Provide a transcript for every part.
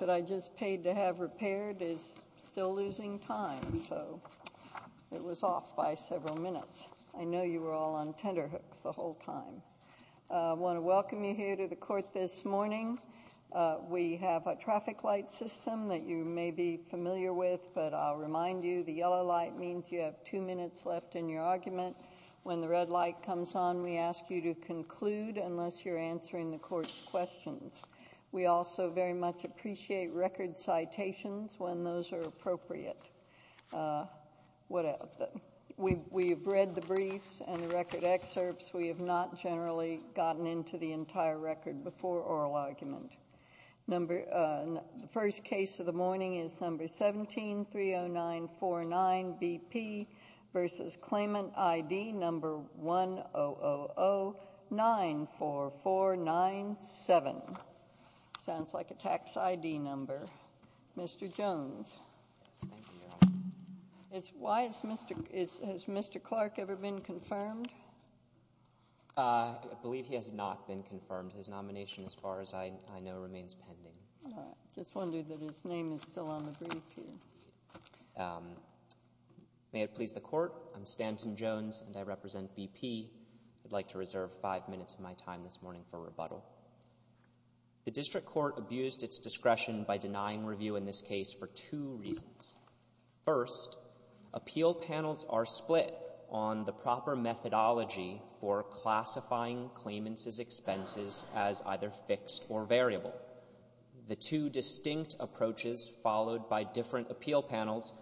that I just paid to have repaired is still losing time, so it was off by several minutes. I know you were all on tenderhooks the whole time. I want to welcome you here to the court this morning. We have a traffic light system that you may be familiar with, but I'll remind you, the yellow light means you have two minutes left in your argument. When the red light comes on, we ask you to conclude unless you're answering the court's questions. We also very much appreciate record citations when those are appropriate. We have read the briefs and the record excerpts. We have not generally gotten into the entire record before oral argument. The first case of the morning is number 17-30949BP v. Claimant ID number 100094497. Sounds like a tax ID number. Mr. Jones. Has Mr. Clark ever been confirmed? I believe he has not been confirmed. His nomination, as far as I know, remains pending. All right. Just wondered that his name is still on the brief here. May it please the court, I'm Stanton Jones, and I represent BP. I'd like to reserve five minutes of my time this morning for rebuttal. The district court abused its discretion by denying review in this case for two reasons. First, appeal panels are split on the proper methodology for classifying claimants' expenses as either fixed or variable. The two distinct approaches followed by different appeal panels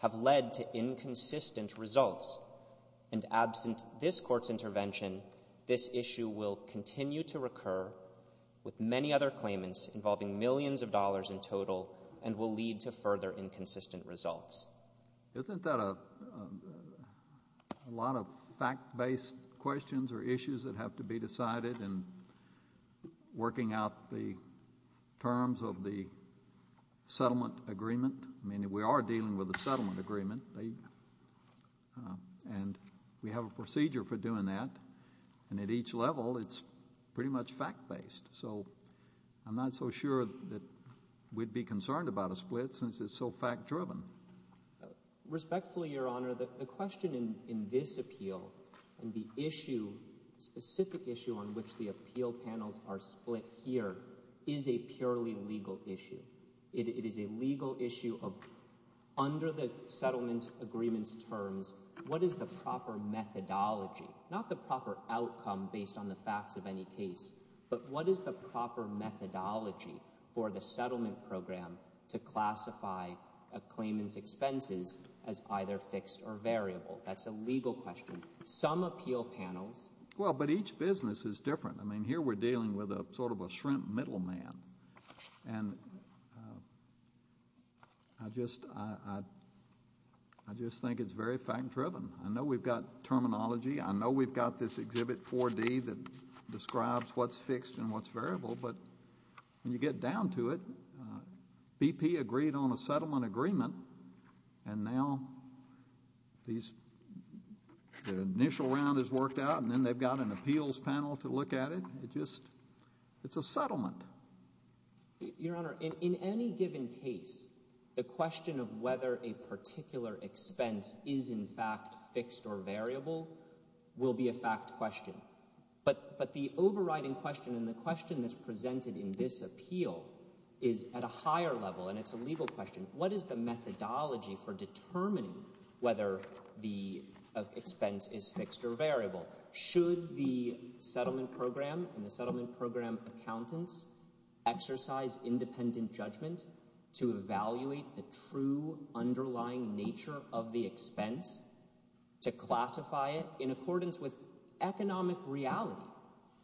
have led to inconsistent results. And absent this court's intervention, this issue will continue to recur with many other claimants involving millions of dollars in total and will lead to further inconsistent results. Isn't that a lot of fact-based questions or issues that have to be decided in working out the terms of the settlement agreement? I mean, we are dealing with a settlement agreement, and we have a procedure for doing that. And at each level, it's pretty much fact-based. So I'm not so sure that we'd be concerned about a split since it's so fact-driven. Respectfully, Your Honor, the question in this appeal and the issue, specific issue on which the appeal panels are split here, is a purely legal issue. It is a legal issue of under the settlement agreement's terms, what is the proper methodology? Not the proper outcome based on the facts of any case, but what is the proper methodology for the settlement program to classify a claimant's expenses as either fixed or variable? That's a legal question. Some appeal panels— Well, but each business is different. I mean, here we're dealing with sort of a shrimp middleman, and I just think it's very fact-driven. I know we've got terminology. I know we've got this exhibit 4D that describes what's fixed and what's variable. But when you get down to it, BP agreed on a settlement agreement, and now these—the initial round is worked out, and then they've got an appeals panel to look at it. Your Honor, in any given case, the question of whether a particular expense is in fact fixed or variable will be a fact question. But the overriding question and the question that's presented in this appeal is at a higher level, and it's a legal question. What is the methodology for determining whether the expense is fixed or variable? Should the settlement program and the settlement program accountants exercise independent judgment to evaluate the true underlying nature of the expense to classify it in accordance with economic reality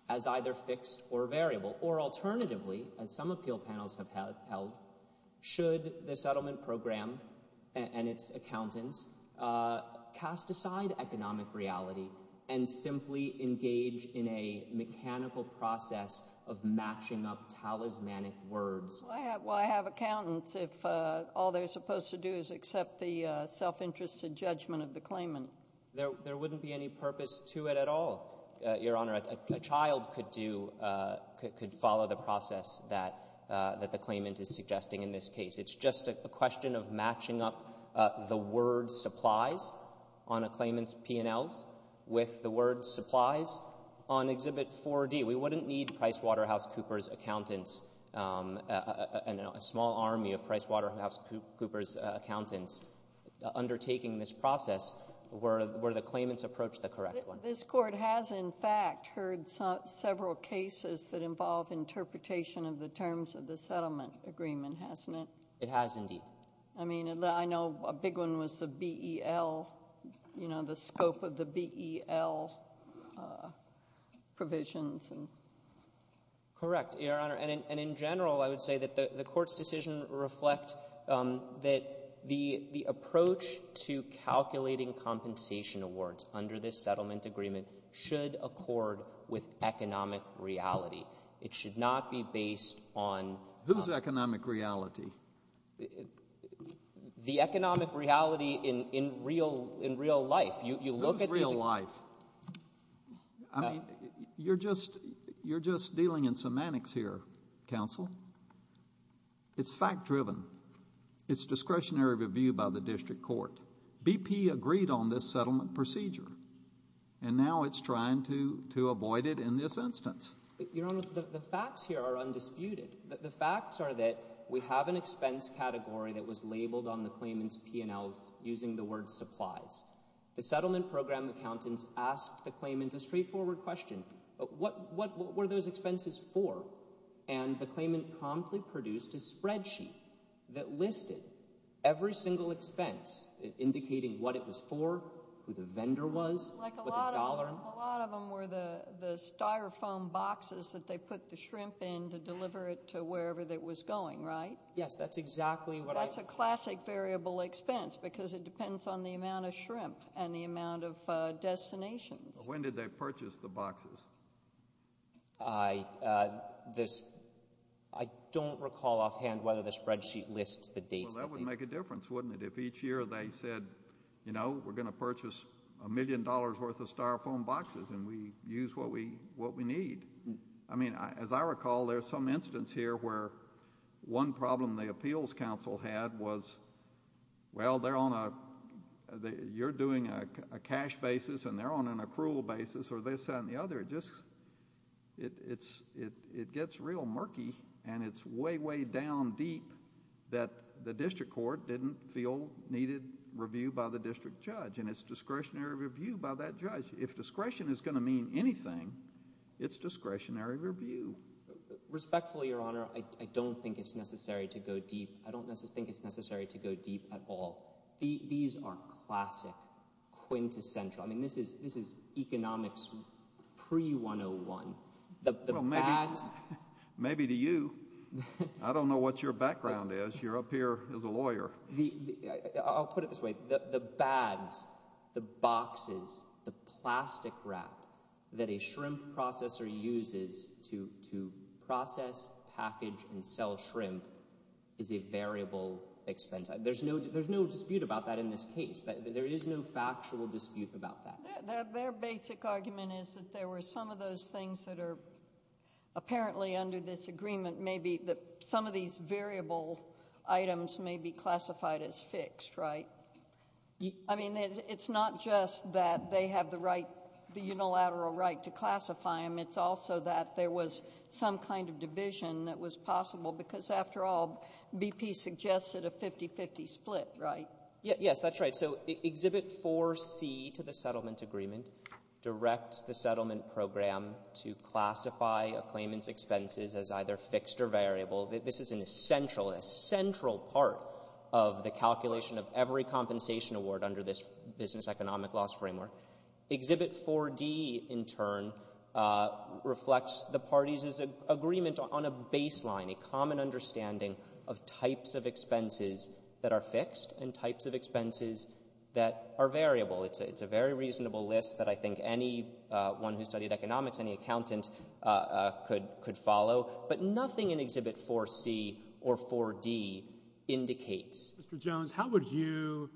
as either fixed or variable? Or alternatively, as some appeal panels have held, should the settlement program and its accountants cast aside economic reality and simply engage in a mechanical process of matching up talismanic words? Well, I have accountants if all they're supposed to do is accept the self-interested judgment of the claimant. There wouldn't be any purpose to it at all, Your Honor. A child could do—could follow the process that the claimant is suggesting in this case. It's just a question of matching up the word supplies on a claimant's P&Ls with the word supplies on Exhibit 4D. We wouldn't need PricewaterhouseCoopers accountants and a small army of PricewaterhouseCoopers accountants undertaking this process were the claimants approach the correct one. But this Court has, in fact, heard several cases that involve interpretation of the terms of the settlement agreement, hasn't it? It has, indeed. I mean, I know a big one was the BEL, you know, the scope of the BEL provisions. Correct, Your Honor. And in general, I would say that the Court's decision reflect that the approach to calculating compensation awards under this settlement agreement should accord with economic reality. It should not be based on— Whose economic reality? The economic reality in real life. You look at these— Whose real life? I mean, you're just dealing in semantics here, counsel. It's fact-driven. It's discretionary review by the district court. BP agreed on this settlement procedure, and now it's trying to avoid it in this instance. Your Honor, the facts here are undisputed. The facts are that we have an expense category that was labeled on the claimant's P&Ls using the word supplies. The settlement program accountants asked the claimant a straightforward question. What were those expenses for? And the claimant promptly produced a spreadsheet that listed every single expense, indicating what it was for, who the vendor was, what the dollar— Like a lot of them were the styrofoam boxes that they put the shrimp in to deliver it to wherever it was going, right? Yes, that's exactly what I— And the amount of destinations. When did they purchase the boxes? I don't recall offhand whether the spreadsheet lists the dates. Well, that would make a difference, wouldn't it, if each year they said, you know, we're going to purchase a million dollars' worth of styrofoam boxes and we use what we need? I mean, as I recall, there's some instance here where one problem the appeals counsel had was, well, they're on a... you're doing a cash basis and they're on an approval basis or this and the other. It just... it gets real murky and it's way, way down deep that the district court didn't feel needed review by the district judge. And it's discretionary review by that judge. If discretion is going to mean anything, it's discretionary review. Respectfully, Your Honor, I don't think it's necessary to go deep. I don't think it's necessary to go deep at all. These are classic, quintessential—I mean, this is economics pre-101. Well, maybe to you. I don't know what your background is. You're up here as a lawyer. I'll put it this way. The bags, the boxes, the plastic wrap that a shrimp processor uses to process, package, and sell shrimp is a variable expense. There's no dispute about that in this case. There is no factual dispute about that. Their basic argument is that there were some of those things that are apparently under this agreement. Some of these variable items may be classified as fixed, right? I mean, it's not just that they have the unilateral right to classify them. It's also that there was some kind of division that was possible because, after all, BP suggested a 50-50 split, right? Yes, that's right. Exhibit 4C to the settlement agreement directs the settlement program to classify a claimant's expenses as either fixed or variable. This is an essential, central part of the calculation of every compensation award under this business economic loss framework. Exhibit 4D, in turn, reflects the parties' agreement on a baseline, a common understanding of types of expenses that are fixed and types of expenses that are variable. It's a very reasonable list that I think anyone who studied economics, any accountant, could follow, but nothing in Exhibit 4C or 4D indicates. Mr. Jones, how would you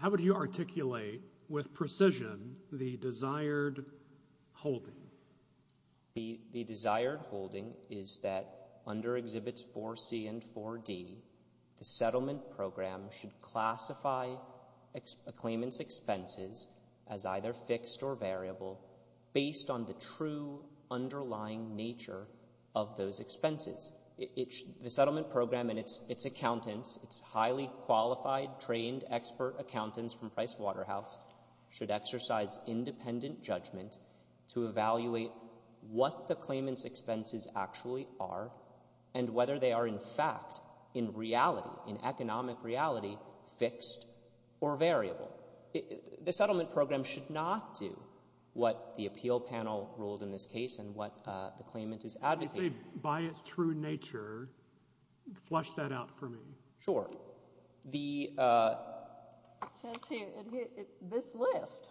articulate with precision the desired holding? The desired holding is that, under Exhibits 4C and 4D, the settlement program should classify a claimant's expenses as either fixed or variable based on the true underlying nature of those expenses. The settlement program and its accountants, its highly qualified, trained, expert accountants from Price Waterhouse, should exercise independent judgment to evaluate what the claimant's expenses actually are and whether they are, in fact, in reality, in economic reality, fixed or variable. The settlement program should not do what the appeal panel ruled in this case and what the claimant is advocating. When you say by its true nature, flush that out for me. Sure. It says here, this list.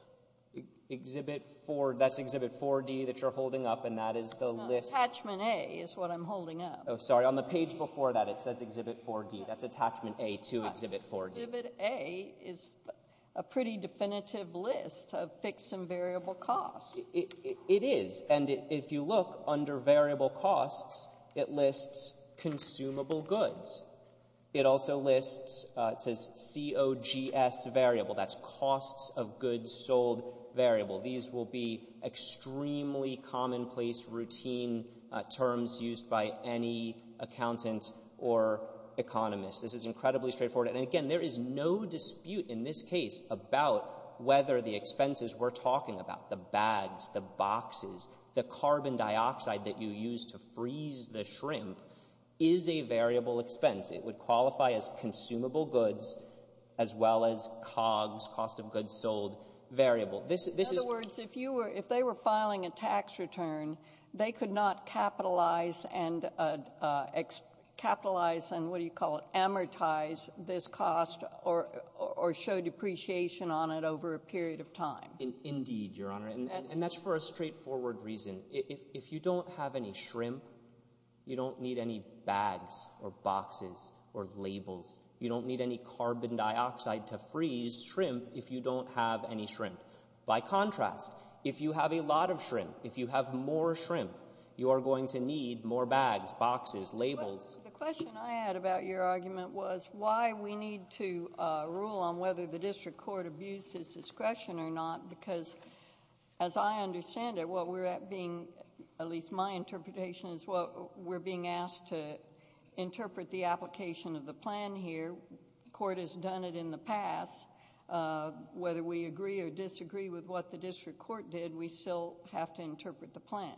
Exhibit 4, that's Exhibit 4D that you're holding up, and that is the list. Attachment A is what I'm holding up. Oh, sorry, on the page before that, it says Exhibit 4D. That's Attachment A to Exhibit 4D. Exhibit A is a pretty definitive list of fixed and variable costs. It is, and if you look under variable costs, it lists consumable goods. It also lists, it says COGS variable. That's costs of goods sold variable. These will be extremely commonplace, routine terms used by any accountant or economist. This is incredibly straightforward, and again, there is no dispute in this case about whether the expenses we're talking about, the bags, the boxes, the carbon dioxide that you use to freeze the shrimp is a variable expense. It would qualify as consumable goods as well as COGS, cost of goods sold, variable. In other words, if they were filing a tax return, they could not capitalize and amortize this cost or show depreciation on it over a period of time. Indeed, Your Honor, and that's for a straightforward reason. If you don't have any shrimp, you don't need any bags or boxes or labels. You don't need any carbon dioxide to freeze shrimp if you don't have any shrimp. By contrast, if you have a lot of shrimp, if you have more shrimp, you are going to need more bags, boxes, labels. The question I had about your argument was why we need to rule on whether the district court abuses discretion or not because, as I understand it, what we're being, at least my interpretation, is what we're being asked to interpret the application of the plan here. The court has done it in the past. Whether we agree or disagree with what the district court did, we still have to interpret the plan.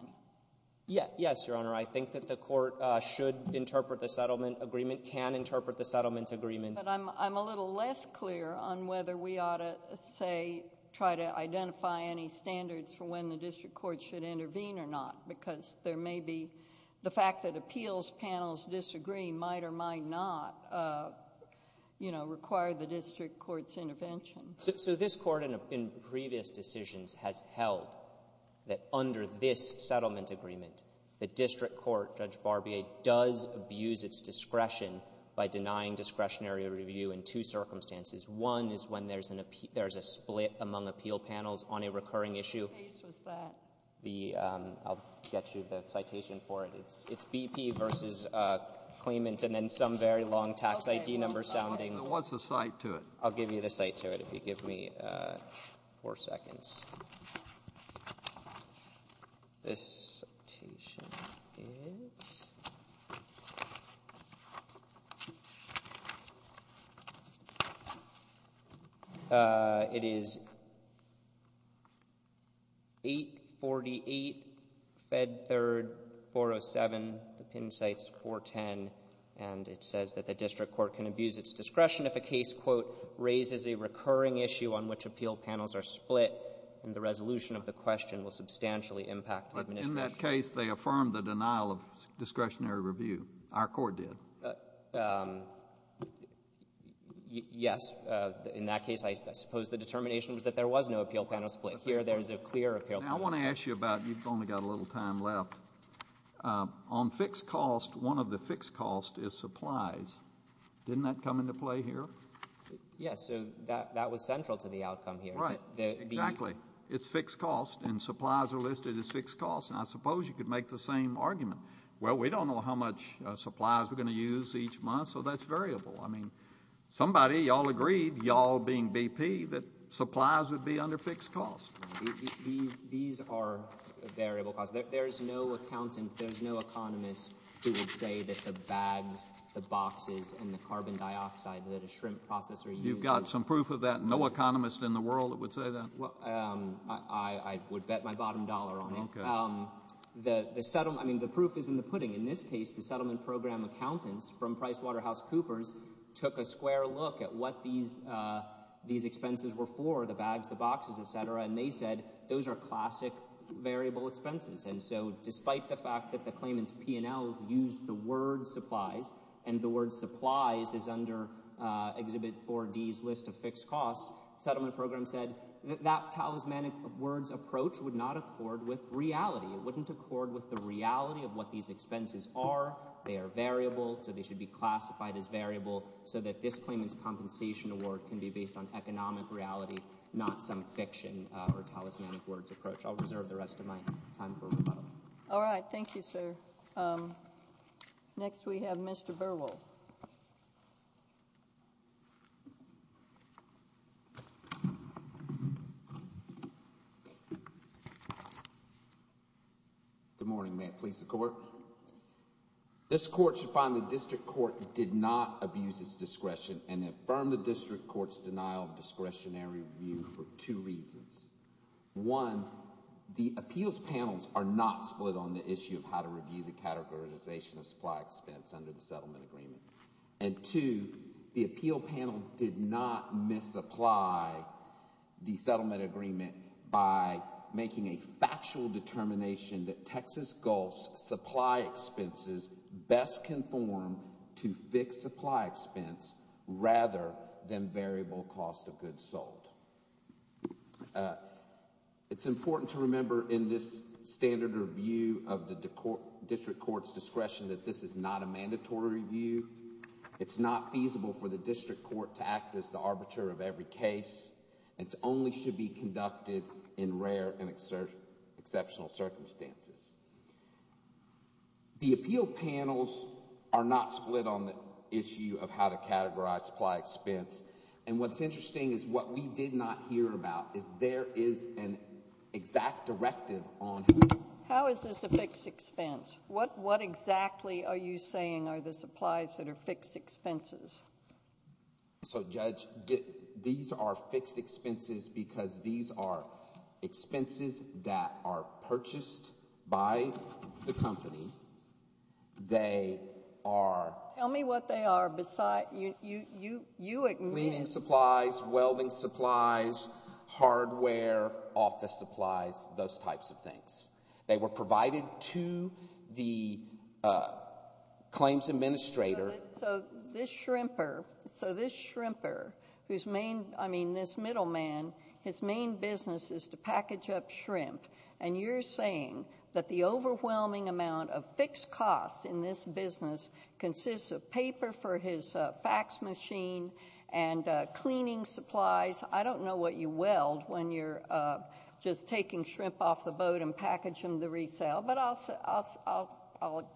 Yes, Your Honor. I think that the court should interpret the settlement agreement, can interpret the settlement agreement. But I'm a little less clear on whether we ought to, say, try to identify any standards for when the district court should intervene or not because there may be the fact that appeals panels disagree might or might not, you know, require the district court's intervention. So this Court in previous decisions has held that under this settlement agreement, the district court, Judge Barbier, does abuse its discretion by denying discretionary review in two circumstances. One is when there's a split among appeal panels on a recurring issue. What case was that? I'll get you the citation for it. It's BP v. Clement and then some very long tax ID number sounding. What's the cite to it? I'll give you the cite to it if you give me four seconds. This citation is 848, Fed 3rd, 407. The pin cite is 410. And it says that the district court can abuse its discretion if a case, quote, raises a recurring issue on which appeal panels are split, and the resolution of the question will substantially impact the administration. But in that case, they affirmed the denial of discretionary review. Our court did. Yes. In that case, I suppose the determination was that there was no appeal panel split. Here, there is a clear appeal panel split. Now, I want to ask you about you've only got a little time left. On fixed costs, one of the fixed costs is supplies. Didn't that come into play here? Yes. So that was central to the outcome here. Right. Exactly. It's fixed costs, and supplies are listed as fixed costs. And I suppose you could make the same argument. Well, we don't know how much supplies we're going to use each month, so that's variable. I mean, somebody, y'all agreed, y'all being BP, that supplies would be under fixed costs. These are variable costs. There's no accountant, there's no economist who would say that the bags, the boxes, and the carbon dioxide that a shrimp processor uses— You've got some proof of that? No economist in the world that would say that? I would bet my bottom dollar on it. Okay. I mean, the proof is in the pudding. In this case, the settlement program accountants from PricewaterhouseCoopers took a square look at what these expenses were for, the bags, the boxes, et cetera, and they said those are classic variable expenses. And so despite the fact that the claimants' P&Ls used the word supplies, and the word supplies is under Exhibit 4D's list of fixed costs, the settlement program said that that talismanic words approach would not accord with reality. It wouldn't accord with the reality of what these expenses are. So that this claimant's compensation award can be based on economic reality, not some fiction or talismanic words approach. I'll reserve the rest of my time for rebuttal. All right. Thank you, sir. Next we have Mr. Burwell. Good morning. May it please the Court. This Court should find the district court that did not abuse its discretion and affirm the district court's denial of discretionary review for two reasons. One, the appeals panels are not split on the issue of how to review the categorization of supply expense under the settlement agreement. And two, the appeal panel did not misapply the settlement agreement by making a factual determination that Texas Gulf's supply expenses best conform to fixed supply expense rather than variable cost of goods sold. It's important to remember in this standard review of the district court's discretion that this is not a mandatory review. It's not feasible for the district court to act as the arbiter of every case. It only should be conducted in rare and exceptional circumstances. The appeal panels are not split on the issue of how to categorize supply expense. And what's interesting is what we did not hear about is there is an exact directive on how... How is this a fixed expense? What exactly are you saying are the supplies that are fixed expenses? So, Judge, these are fixed expenses because these are expenses that are purchased by the company. They are... Tell me what they are. You admit... Cleaning supplies, welding supplies, hardware, office supplies, those types of things. They were provided to the claims administrator... So, this shrimper... So, this shrimper whose main... I mean, this middleman, his main business is to package up shrimp. And you're saying that the overwhelming amount of fixed costs in this business consists of paper for his fax machine and cleaning supplies. I don't know what you weld when you're just taking shrimp off the boat and packaging them to resale, but I'll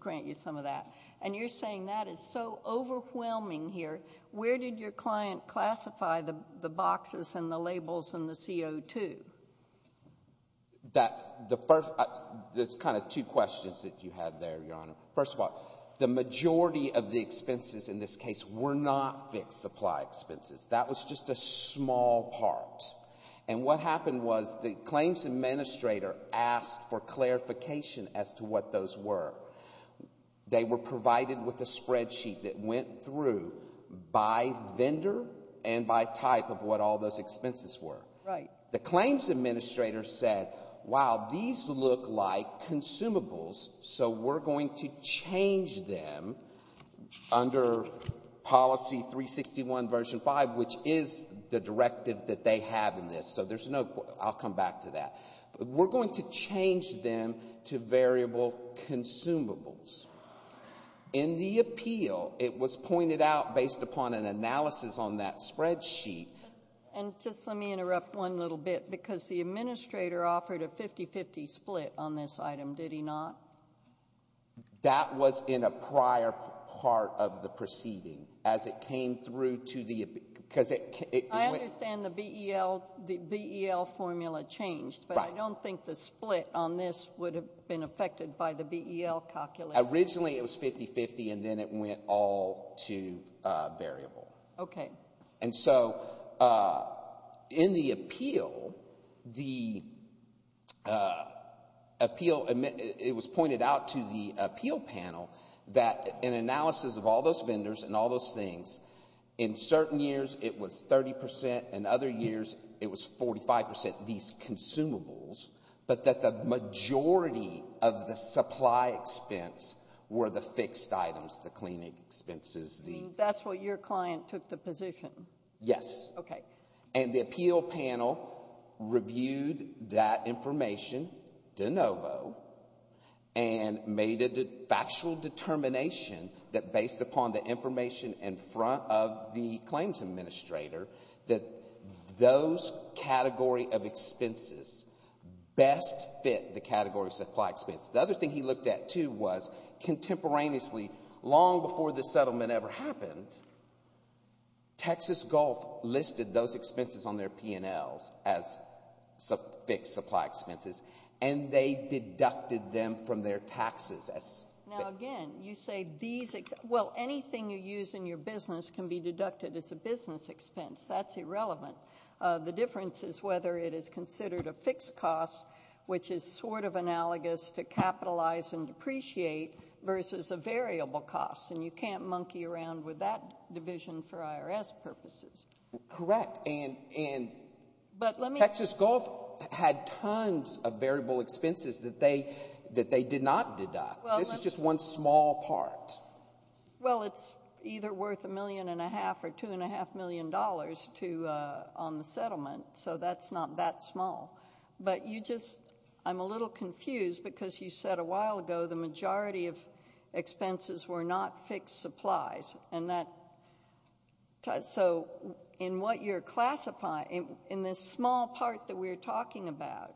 grant you some of that. And you're saying that is so overwhelming here. Where did your client classify the boxes and the labels and the CO2? That... The first... There's kind of two questions that you had there, Your Honor. First of all, the majority of the expenses in this case were not fixed supply expenses. That was just a small part. And what happened was the claims administrator asked for clarification as to what those were. They were provided with a spreadsheet that went through by vendor and by type of what all those expenses were. The claims administrator said, wow, these look like consumables, so we're going to change them under Policy 361, Version 5, which is the directive that they have in this. So, there's no... I'll come back to that. We're going to change them to variable consumables. In the appeal, it was pointed out, based upon an analysis on that spreadsheet... And just let me interrupt one little bit, because the administrator offered a 50-50 split on this item, did he not? That was in a prior part of the proceeding as it came through to the... I understand the BEL formula changed, but I don't think the split on this would have been affected by the BEL calculation. Originally, it was 50-50, and then it went all to variable. Okay. And so, in the appeal, the appeal... It was pointed out to the appeal panel that an analysis of all those vendors and all those things... In certain years, it was 30 percent. In other years, it was 45 percent, these consumables. But that the majority of the supply expense were the fixed items, the cleaning expenses, the... That's where your client took the position. Yes. Okay. And the appeal panel reviewed that information de novo and made a factual determination that, based upon the information in front of the claims administrator, that those category of expenses best fit the category of supply expense. The other thing he looked at, too, was contemporaneously, long before the settlement ever happened, Texas Gulf listed those expenses on their P&Ls as fixed supply expenses, and they deducted them from their taxes. Now, again, you say these... Well, anything you use in your business can be deducted as a business expense. That's irrelevant. The difference is whether it is considered a fixed cost, which is sort of analogous to capitalize and depreciate, versus a variable cost, and you can't monkey around with that division for IRS purposes. Correct. But let me... Texas Gulf had tons of variable expenses that they did not deduct. This is just one small part. Well, it's either worth $1.5 million or $2.5 million on the settlement, so that's not that small. But you just... I'm a little confused because you said a while ago the majority of expenses were not fixed supplies, and that... So in what you're classifying, in this small part that we're talking about,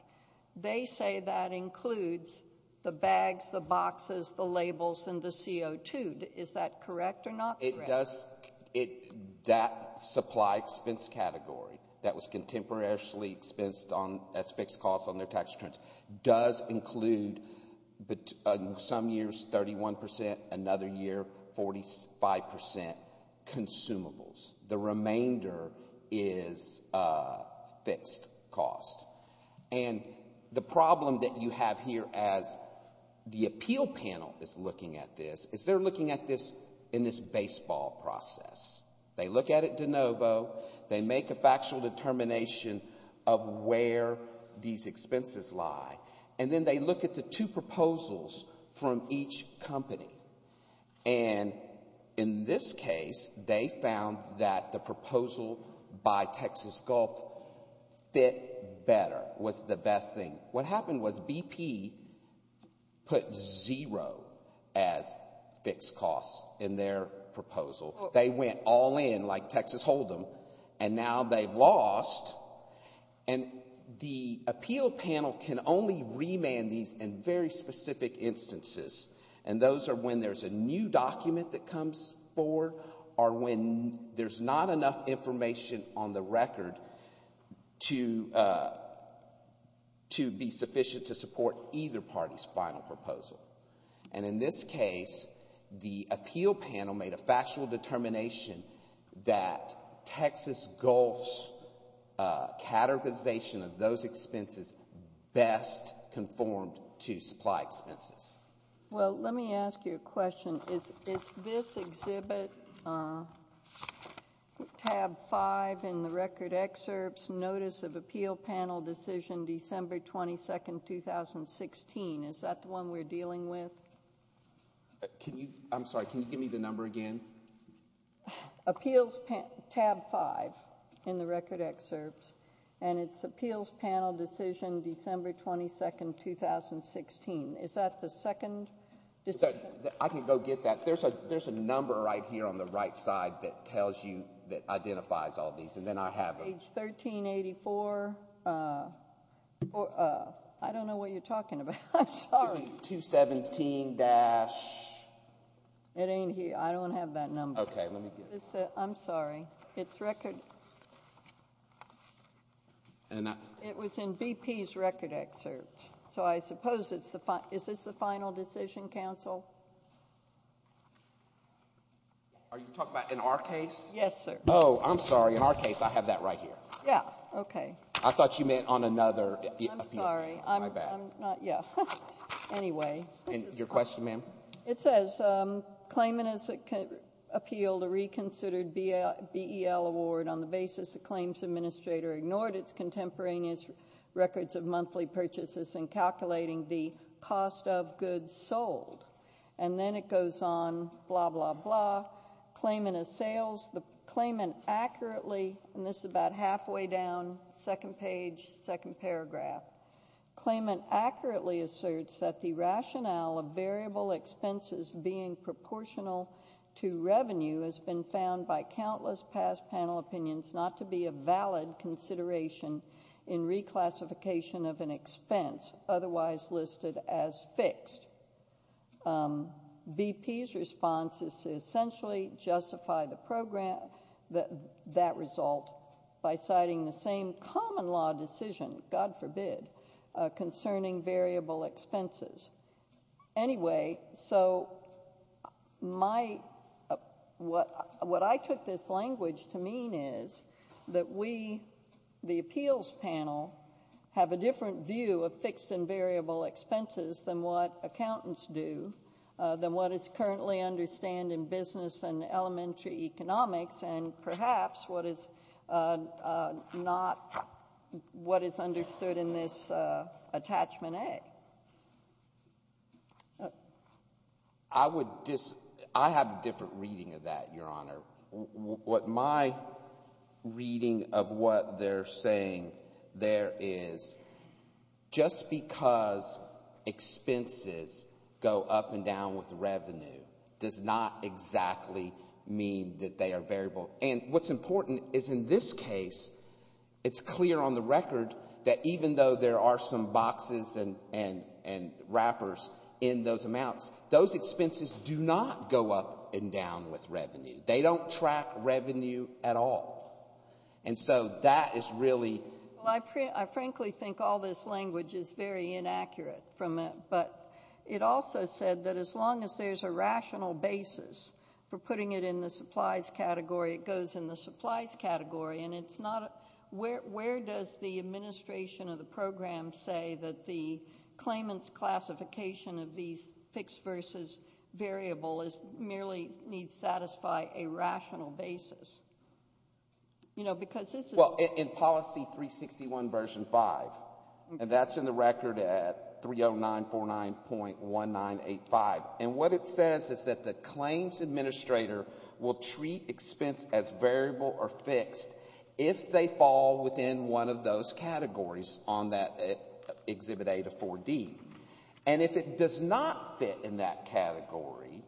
they say that includes the bags, the boxes, the labels, and the CO2. Is that correct or not correct? It does. That supply expense category that was contemporarily expensed as fixed costs on their tax returns does include, in some years, 31 percent, another year, 45 percent consumables. The remainder is fixed costs. And the problem that you have here as the appeal panel is looking at this is they're looking at this in this baseball process. They look at it de novo. They make a factual determination of where these expenses lie, and then they look at the two proposals from each company. And in this case, they found that the proposal by Texas Gulf fit better, was the best thing. What happened was BP put zero as fixed costs in their proposal. They went all in like Texas hold them, and now they've lost. And the appeal panel can only remand these in very specific instances, and those are when there's a new document that comes forward or when there's not enough information on the record to be sufficient to support either party's final proposal. And in this case, the appeal panel made a factual determination that Texas Gulf's categorization of those expenses best conformed to supply expenses. Well, let me ask you a question. Is this exhibit, tab 5 in the record excerpts, Notice of Appeal Panel Decision December 22, 2016, is that the one we're dealing with? I'm sorry, can you give me the number again? Appeals tab 5 in the record excerpts, and it's Appeals Panel Decision December 22, 2016. Is that the second decision? I can go get that. There's a number right here on the right side that tells you, that identifies all these, and then I have them. Page 1384. I don't know what you're talking about. I'm sorry. 217- It ain't here. I don't have that number. Okay, let me get it. I'm sorry. It's record. It was in BP's record excerpt. So I suppose it's the final. Is this the final decision, counsel? Are you talking about in our case? Yes, sir. Oh, I'm sorry. In our case, I have that right here. Yeah, okay. I thought you meant on another appeal. I'm sorry. My bad. Yeah. Your question, ma'am? It says, Claimant has appealed a reconsidered BEL award on the basis the claims administrator ignored its contemporaneous records of monthly purchases in calculating the cost of goods sold. And then it goes on, blah, blah, blah. Claimant assails the claimant accurately. And this is about halfway down, second page, second paragraph. Claimant accurately asserts that the rationale of variable expenses being proportional to revenue has been found by countless past panel opinions not to be a valid consideration in reclassification of an expense otherwise listed as fixed. BP's response is to essentially justify that result by citing the same common law decision, God forbid, concerning variable expenses. Anyway, so what I took this language to mean is that we, the appeals panel, have a different view of fixed and variable expenses than what accountants do, than what is currently understood in business and elementary economics, and perhaps what is not what is understood in this attachment A. I would disagree. I have a different reading of that, Your Honor. What my reading of what they're saying there is, just because expenses go up and down with revenue does not exactly mean that they are variable. And what's important is in this case, it's clear on the record that even though there are some boxes and wrappers in those amounts, those expenses do not go up and down with revenue. They don't track revenue at all. And so that is really... Well, I frankly think all this language is very inaccurate from it, but it also said that as long as there's a rational basis for putting it in the supplies category, it goes in the supplies category, and it's not... Where does the administration of the program say that the claimant's classification of these fixed versus variable merely needs to satisfy a rational basis? You know, because this is... Well, in Policy 361, Version 5, and that's in the record at 30949.1985, and what it says is that the claims administrator will treat expense as variable or fixed if they fall within one of those categories on that Exhibit A to 4D. And if it does not fit in that category,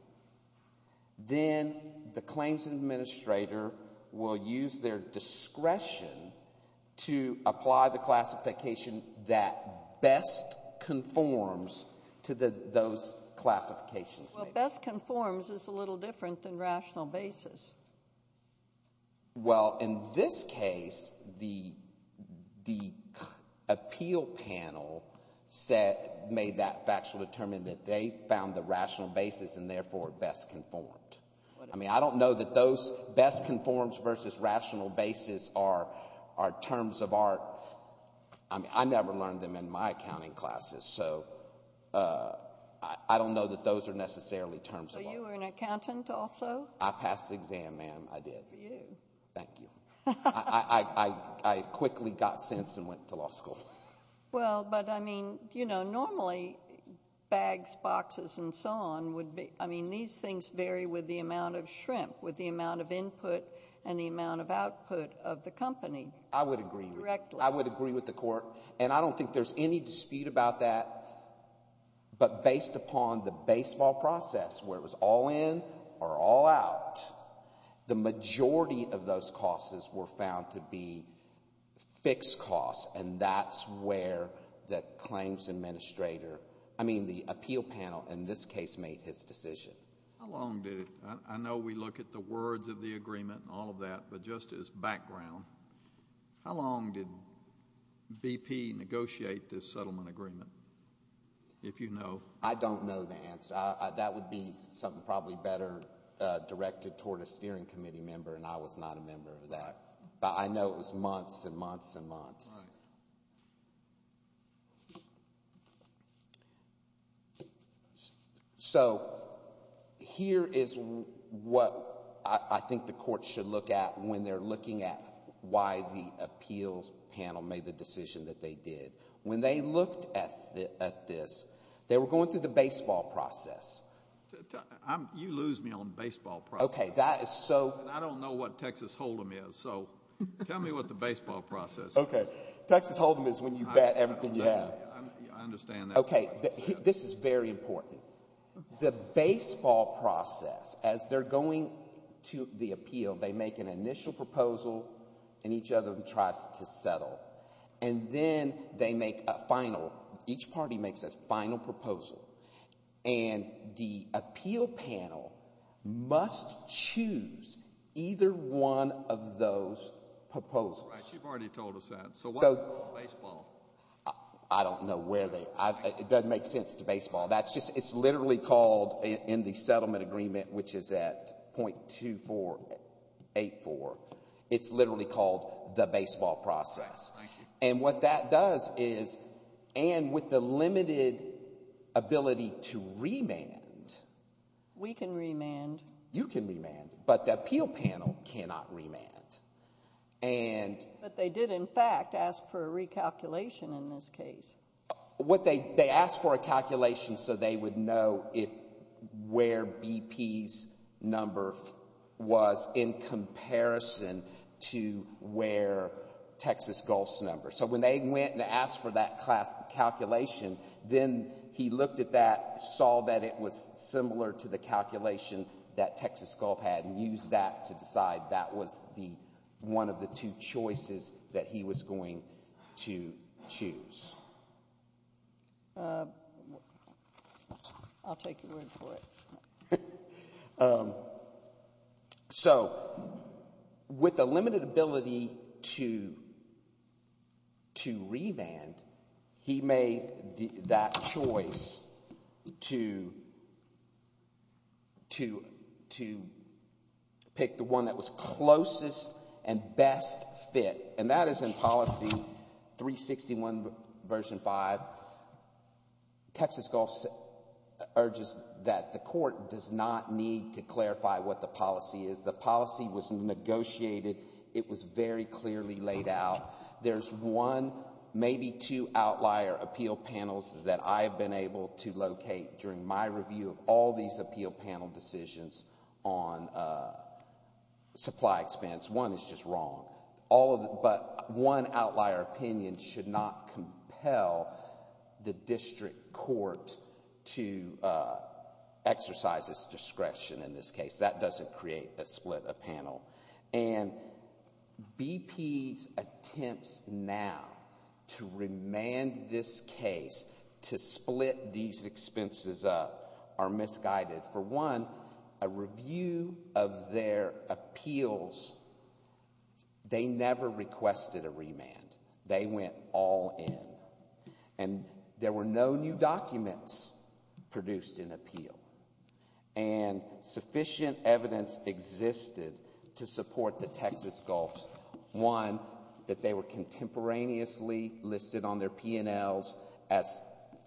then the claims administrator will use their discretion to apply the classification that best conforms to those classifications. Well, best conforms is a little different than rational basis. Well, in this case, the appeal panel made that factual determination that they found the rational basis and therefore best conformed. I mean, I don't know that those best conforms versus rational basis are terms of art. I mean, I never learned them in my accounting classes, so I don't know that those are necessarily terms of art. So you were an accountant also? I passed the exam, ma'am, I did. For you. Thank you. I quickly got sense and went to law school. Well, but, I mean, you know, normally bags, boxes, and so on would be... I mean, these things vary with the amount of shrimp, with the amount of input, and the amount of output of the company. I would agree. I would agree with the court. And I don't think there's any dispute about that, but based upon the baseball process, where it was all in or all out, the majority of those costs were found to be fixed costs, and that's where the claims administrator... I mean, the appeal panel in this case made his decision. How long did it... I know we look at the words of the agreement and all of that, but just as background, how long did BP negotiate this settlement agreement, if you know? I don't know the answer. That would be something probably better directed toward a steering committee member, and I was not a member of that. But I know it was months and months and months. Right. So here is what I think the court should look at when they're looking at why the appeals panel made the decision that they did. When they looked at this, they were going through the baseball process. You lose me on baseball process. Okay, that is so... I don't know what Texas Hold'em is, so tell me what the baseball process is. Okay, Texas Hold'em is when you bet everything you have. I understand that. Okay, this is very important. The baseball process, as they're going to the appeal, they make an initial proposal, and each of them tries to settle. And then they make a final... Each party makes a final proposal, and the appeal panel must choose either one of those proposals. All right, you've already told us that. So what is baseball? I don't know where they... It doesn't make sense to baseball. It's literally called in the settlement agreement, which is at .2484, it's literally called the baseball process. And what that does is, and with the limited ability to remand... We can remand. You can remand, but the appeal panel cannot remand. But they did, in fact, ask for a recalculation in this case. They asked for a calculation so they would know where BP's number was in comparison to where Texas Gulf's number. So when they went and asked for that calculation, then he looked at that, saw that it was similar to the calculation that Texas Gulf had, and used that to decide that was one of the two choices that he was going to choose. I'll take your word for it. So with the limited ability to remand, he made that choice to pick the one that was closest and best fit. And that is in Policy 361, Version 5. Texas Gulf urges that the court does not need to clarify what the policy is. The policy was negotiated. It was very clearly laid out. There's one, maybe two outlier appeal panels that I've been able to locate during my review of all these appeal panel decisions on supply expense. One is just wrong. But one outlier opinion should not compel the district court to exercise its discretion in this case. That doesn't create a split of panel. And BP's attempts now to remand this case, to split these expenses up, are misguided. For one, a review of their appeals, they never requested a remand. They went all in. And there were no new documents produced in appeal. And sufficient evidence existed to support the Texas Gulf. One, that they were contemporaneously listed on their P&Ls as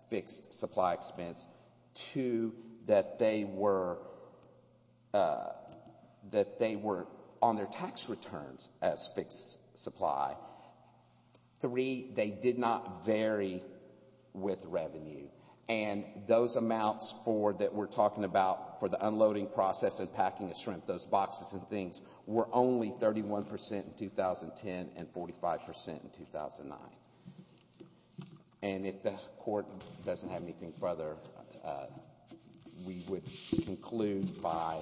fixed supply expense. Two, that they were on their tax returns as fixed supply. Three, they did not vary with revenue. And those amounts that we're talking about for the unloading process and packing of shrimp, those boxes and things, were only 31% in 2010 and 45% in 2009. And if the court doesn't have anything further, we would conclude by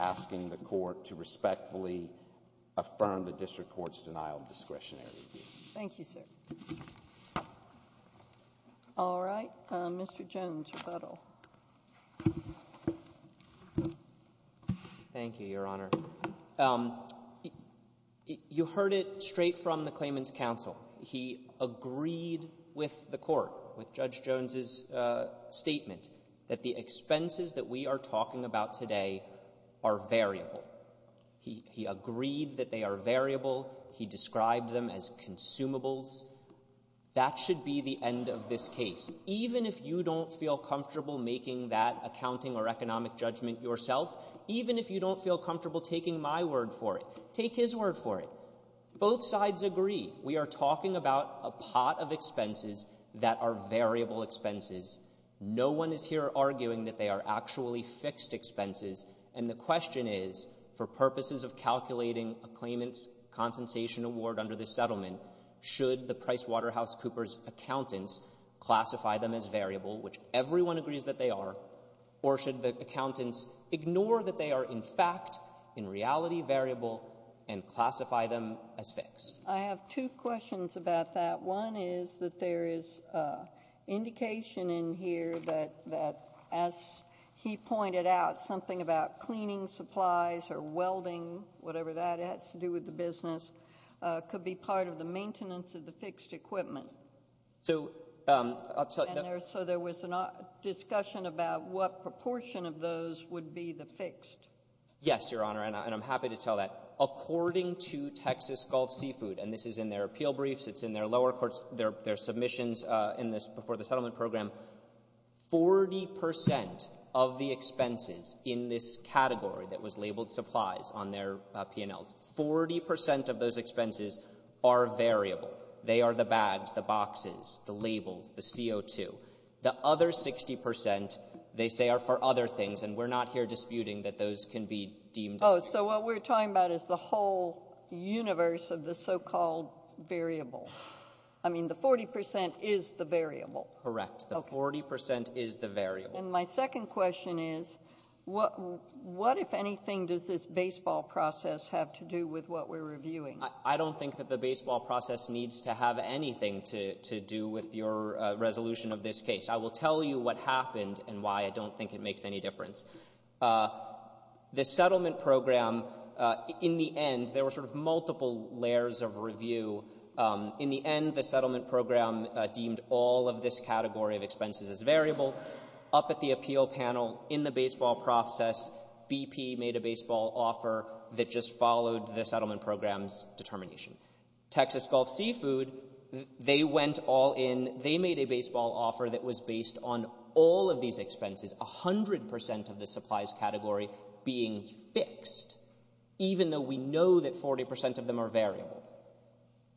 asking the court to respectfully affirm the district court's denial of discretionary review. Thank you, sir. All right. Mr. Jones, rebuttal. Thank you, Your Honor. You heard it straight from the claimant's counsel. He agreed with the court, with Judge Jones's statement, that the expenses that we are talking about today are variable. He agreed that they are variable. He described them as consumables. That should be the end of this case. Even if you don't feel comfortable making that accounting or economic judgment yourself, even if you don't feel comfortable taking my word for it, take his word for it, both sides agree. We are talking about a pot of expenses that are variable expenses. No one is here arguing that they are actually fixed expenses. And the question is, for purposes of calculating a claimant's compensation award under this settlement, should the PricewaterhouseCoopers accountants classify them as variable, which everyone agrees that they are, or should the accountants ignore that they are in fact in reality variable and classify them as fixed? I have two questions about that. One is that there is indication in here that, as he pointed out, something about cleaning supplies or welding, whatever that has to do with the business, could be part of the maintenance of the fixed equipment. So there was a discussion about what proportion of those would be the fixed. Yes, Your Honor, and I'm happy to tell that. According to Texas Gulf Seafood, and this is in their appeal briefs, it's in their submissions before the settlement program, 40% of the expenses in this category that was labeled supplies on their P&Ls, 40% of those expenses are variable. They are the bags, the boxes, the labels, the CO2. The other 60%, they say, are for other things, and we're not here disputing that those can be deemed... Oh, so what we're talking about is the whole universe of the so-called variable. I mean, the 40% is the variable. Correct, the 40% is the variable. And my second question is, what, if anything, does this baseball process have to do with what we're reviewing? I don't think that the baseball process needs to have anything to do with your resolution of this case. I will tell you what happened and why I don't think it makes any difference. The settlement program, in the end, there were sort of multiple layers of review. In the end, the settlement program deemed all of this category of expenses as variable. Up at the appeal panel, in the baseball process, BP made a baseball offer that just followed the settlement program's determination. Texas Gulf Seafood, they went all in. They made a baseball offer that was based on all of these expenses, 100% of the supplies category being fixed, even though we know that 40% of them are variable.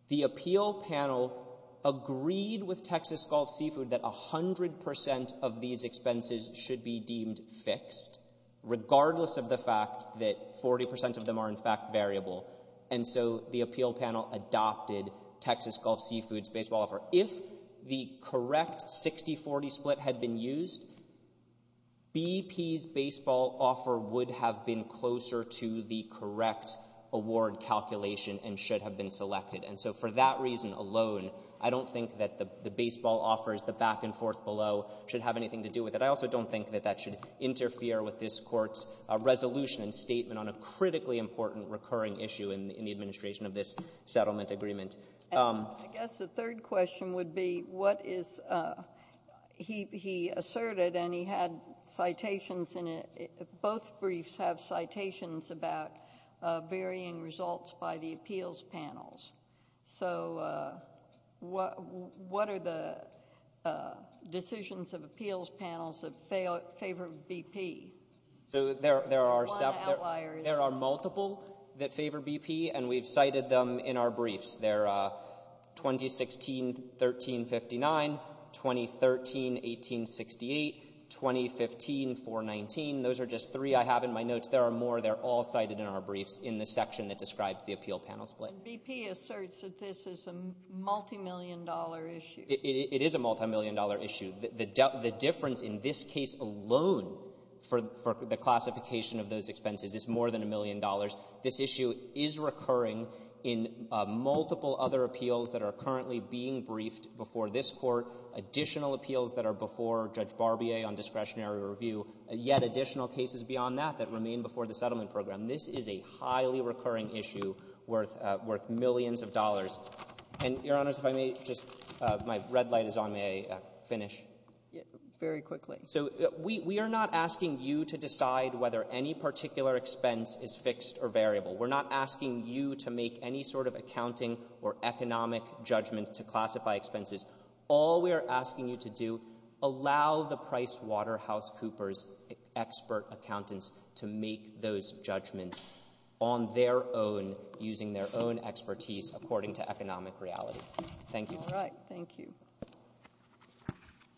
The appeal panel agreed with Texas Gulf Seafood that 100% of these expenses should be deemed fixed, regardless of the fact that 40% of them are in fact variable. And so the appeal panel adopted Texas Gulf Seafood's baseball offer. If the correct 60-40 split had been used, BP's baseball offer would have been closer to the correct award calculation and should have been selected. And so for that reason alone, I don't think that the baseball offer as the back-and-forth below should have anything to do with it. I also don't think that that should interfere with this Court's resolution and statement on a critically important recurring issue in the administration of this settlement agreement. I guess the third question would be what is he asserted, and he had citations in it. Both briefs have citations about varying results by the appeals panels. So what are the decisions of appeals panels that favor BP? There are multiple that favor BP, and we've cited them in our briefs. They're 2016-13-59, 2013-18-68, 2015-4-19. Those are just three I have in my notes. There are more. They're all cited in our briefs in the section that describes the appeal panel split. BP asserts that this is a multimillion-dollar issue. It is a multimillion-dollar issue. The difference in this case alone for the classification of those expenses is more than a million dollars. This issue is recurring in multiple other appeals that are currently being briefed before this Court, additional appeals that are before Judge Barbier on discretionary review, yet additional cases beyond that that remain before the settlement program. This is a highly recurring issue worth millions of dollars. And, Your Honors, if I may, just my red light is on. May I finish? Very quickly. So we are not asking you to decide whether any particular expense is fixed or variable. We're not asking you to make any sort of accounting or economic judgment to classify expenses. All we are asking you to do, allow the PricewaterhouseCoopers expert accountants to make those judgments on their own, using their own expertise according to economic reality. Thank you. All right. Thank you.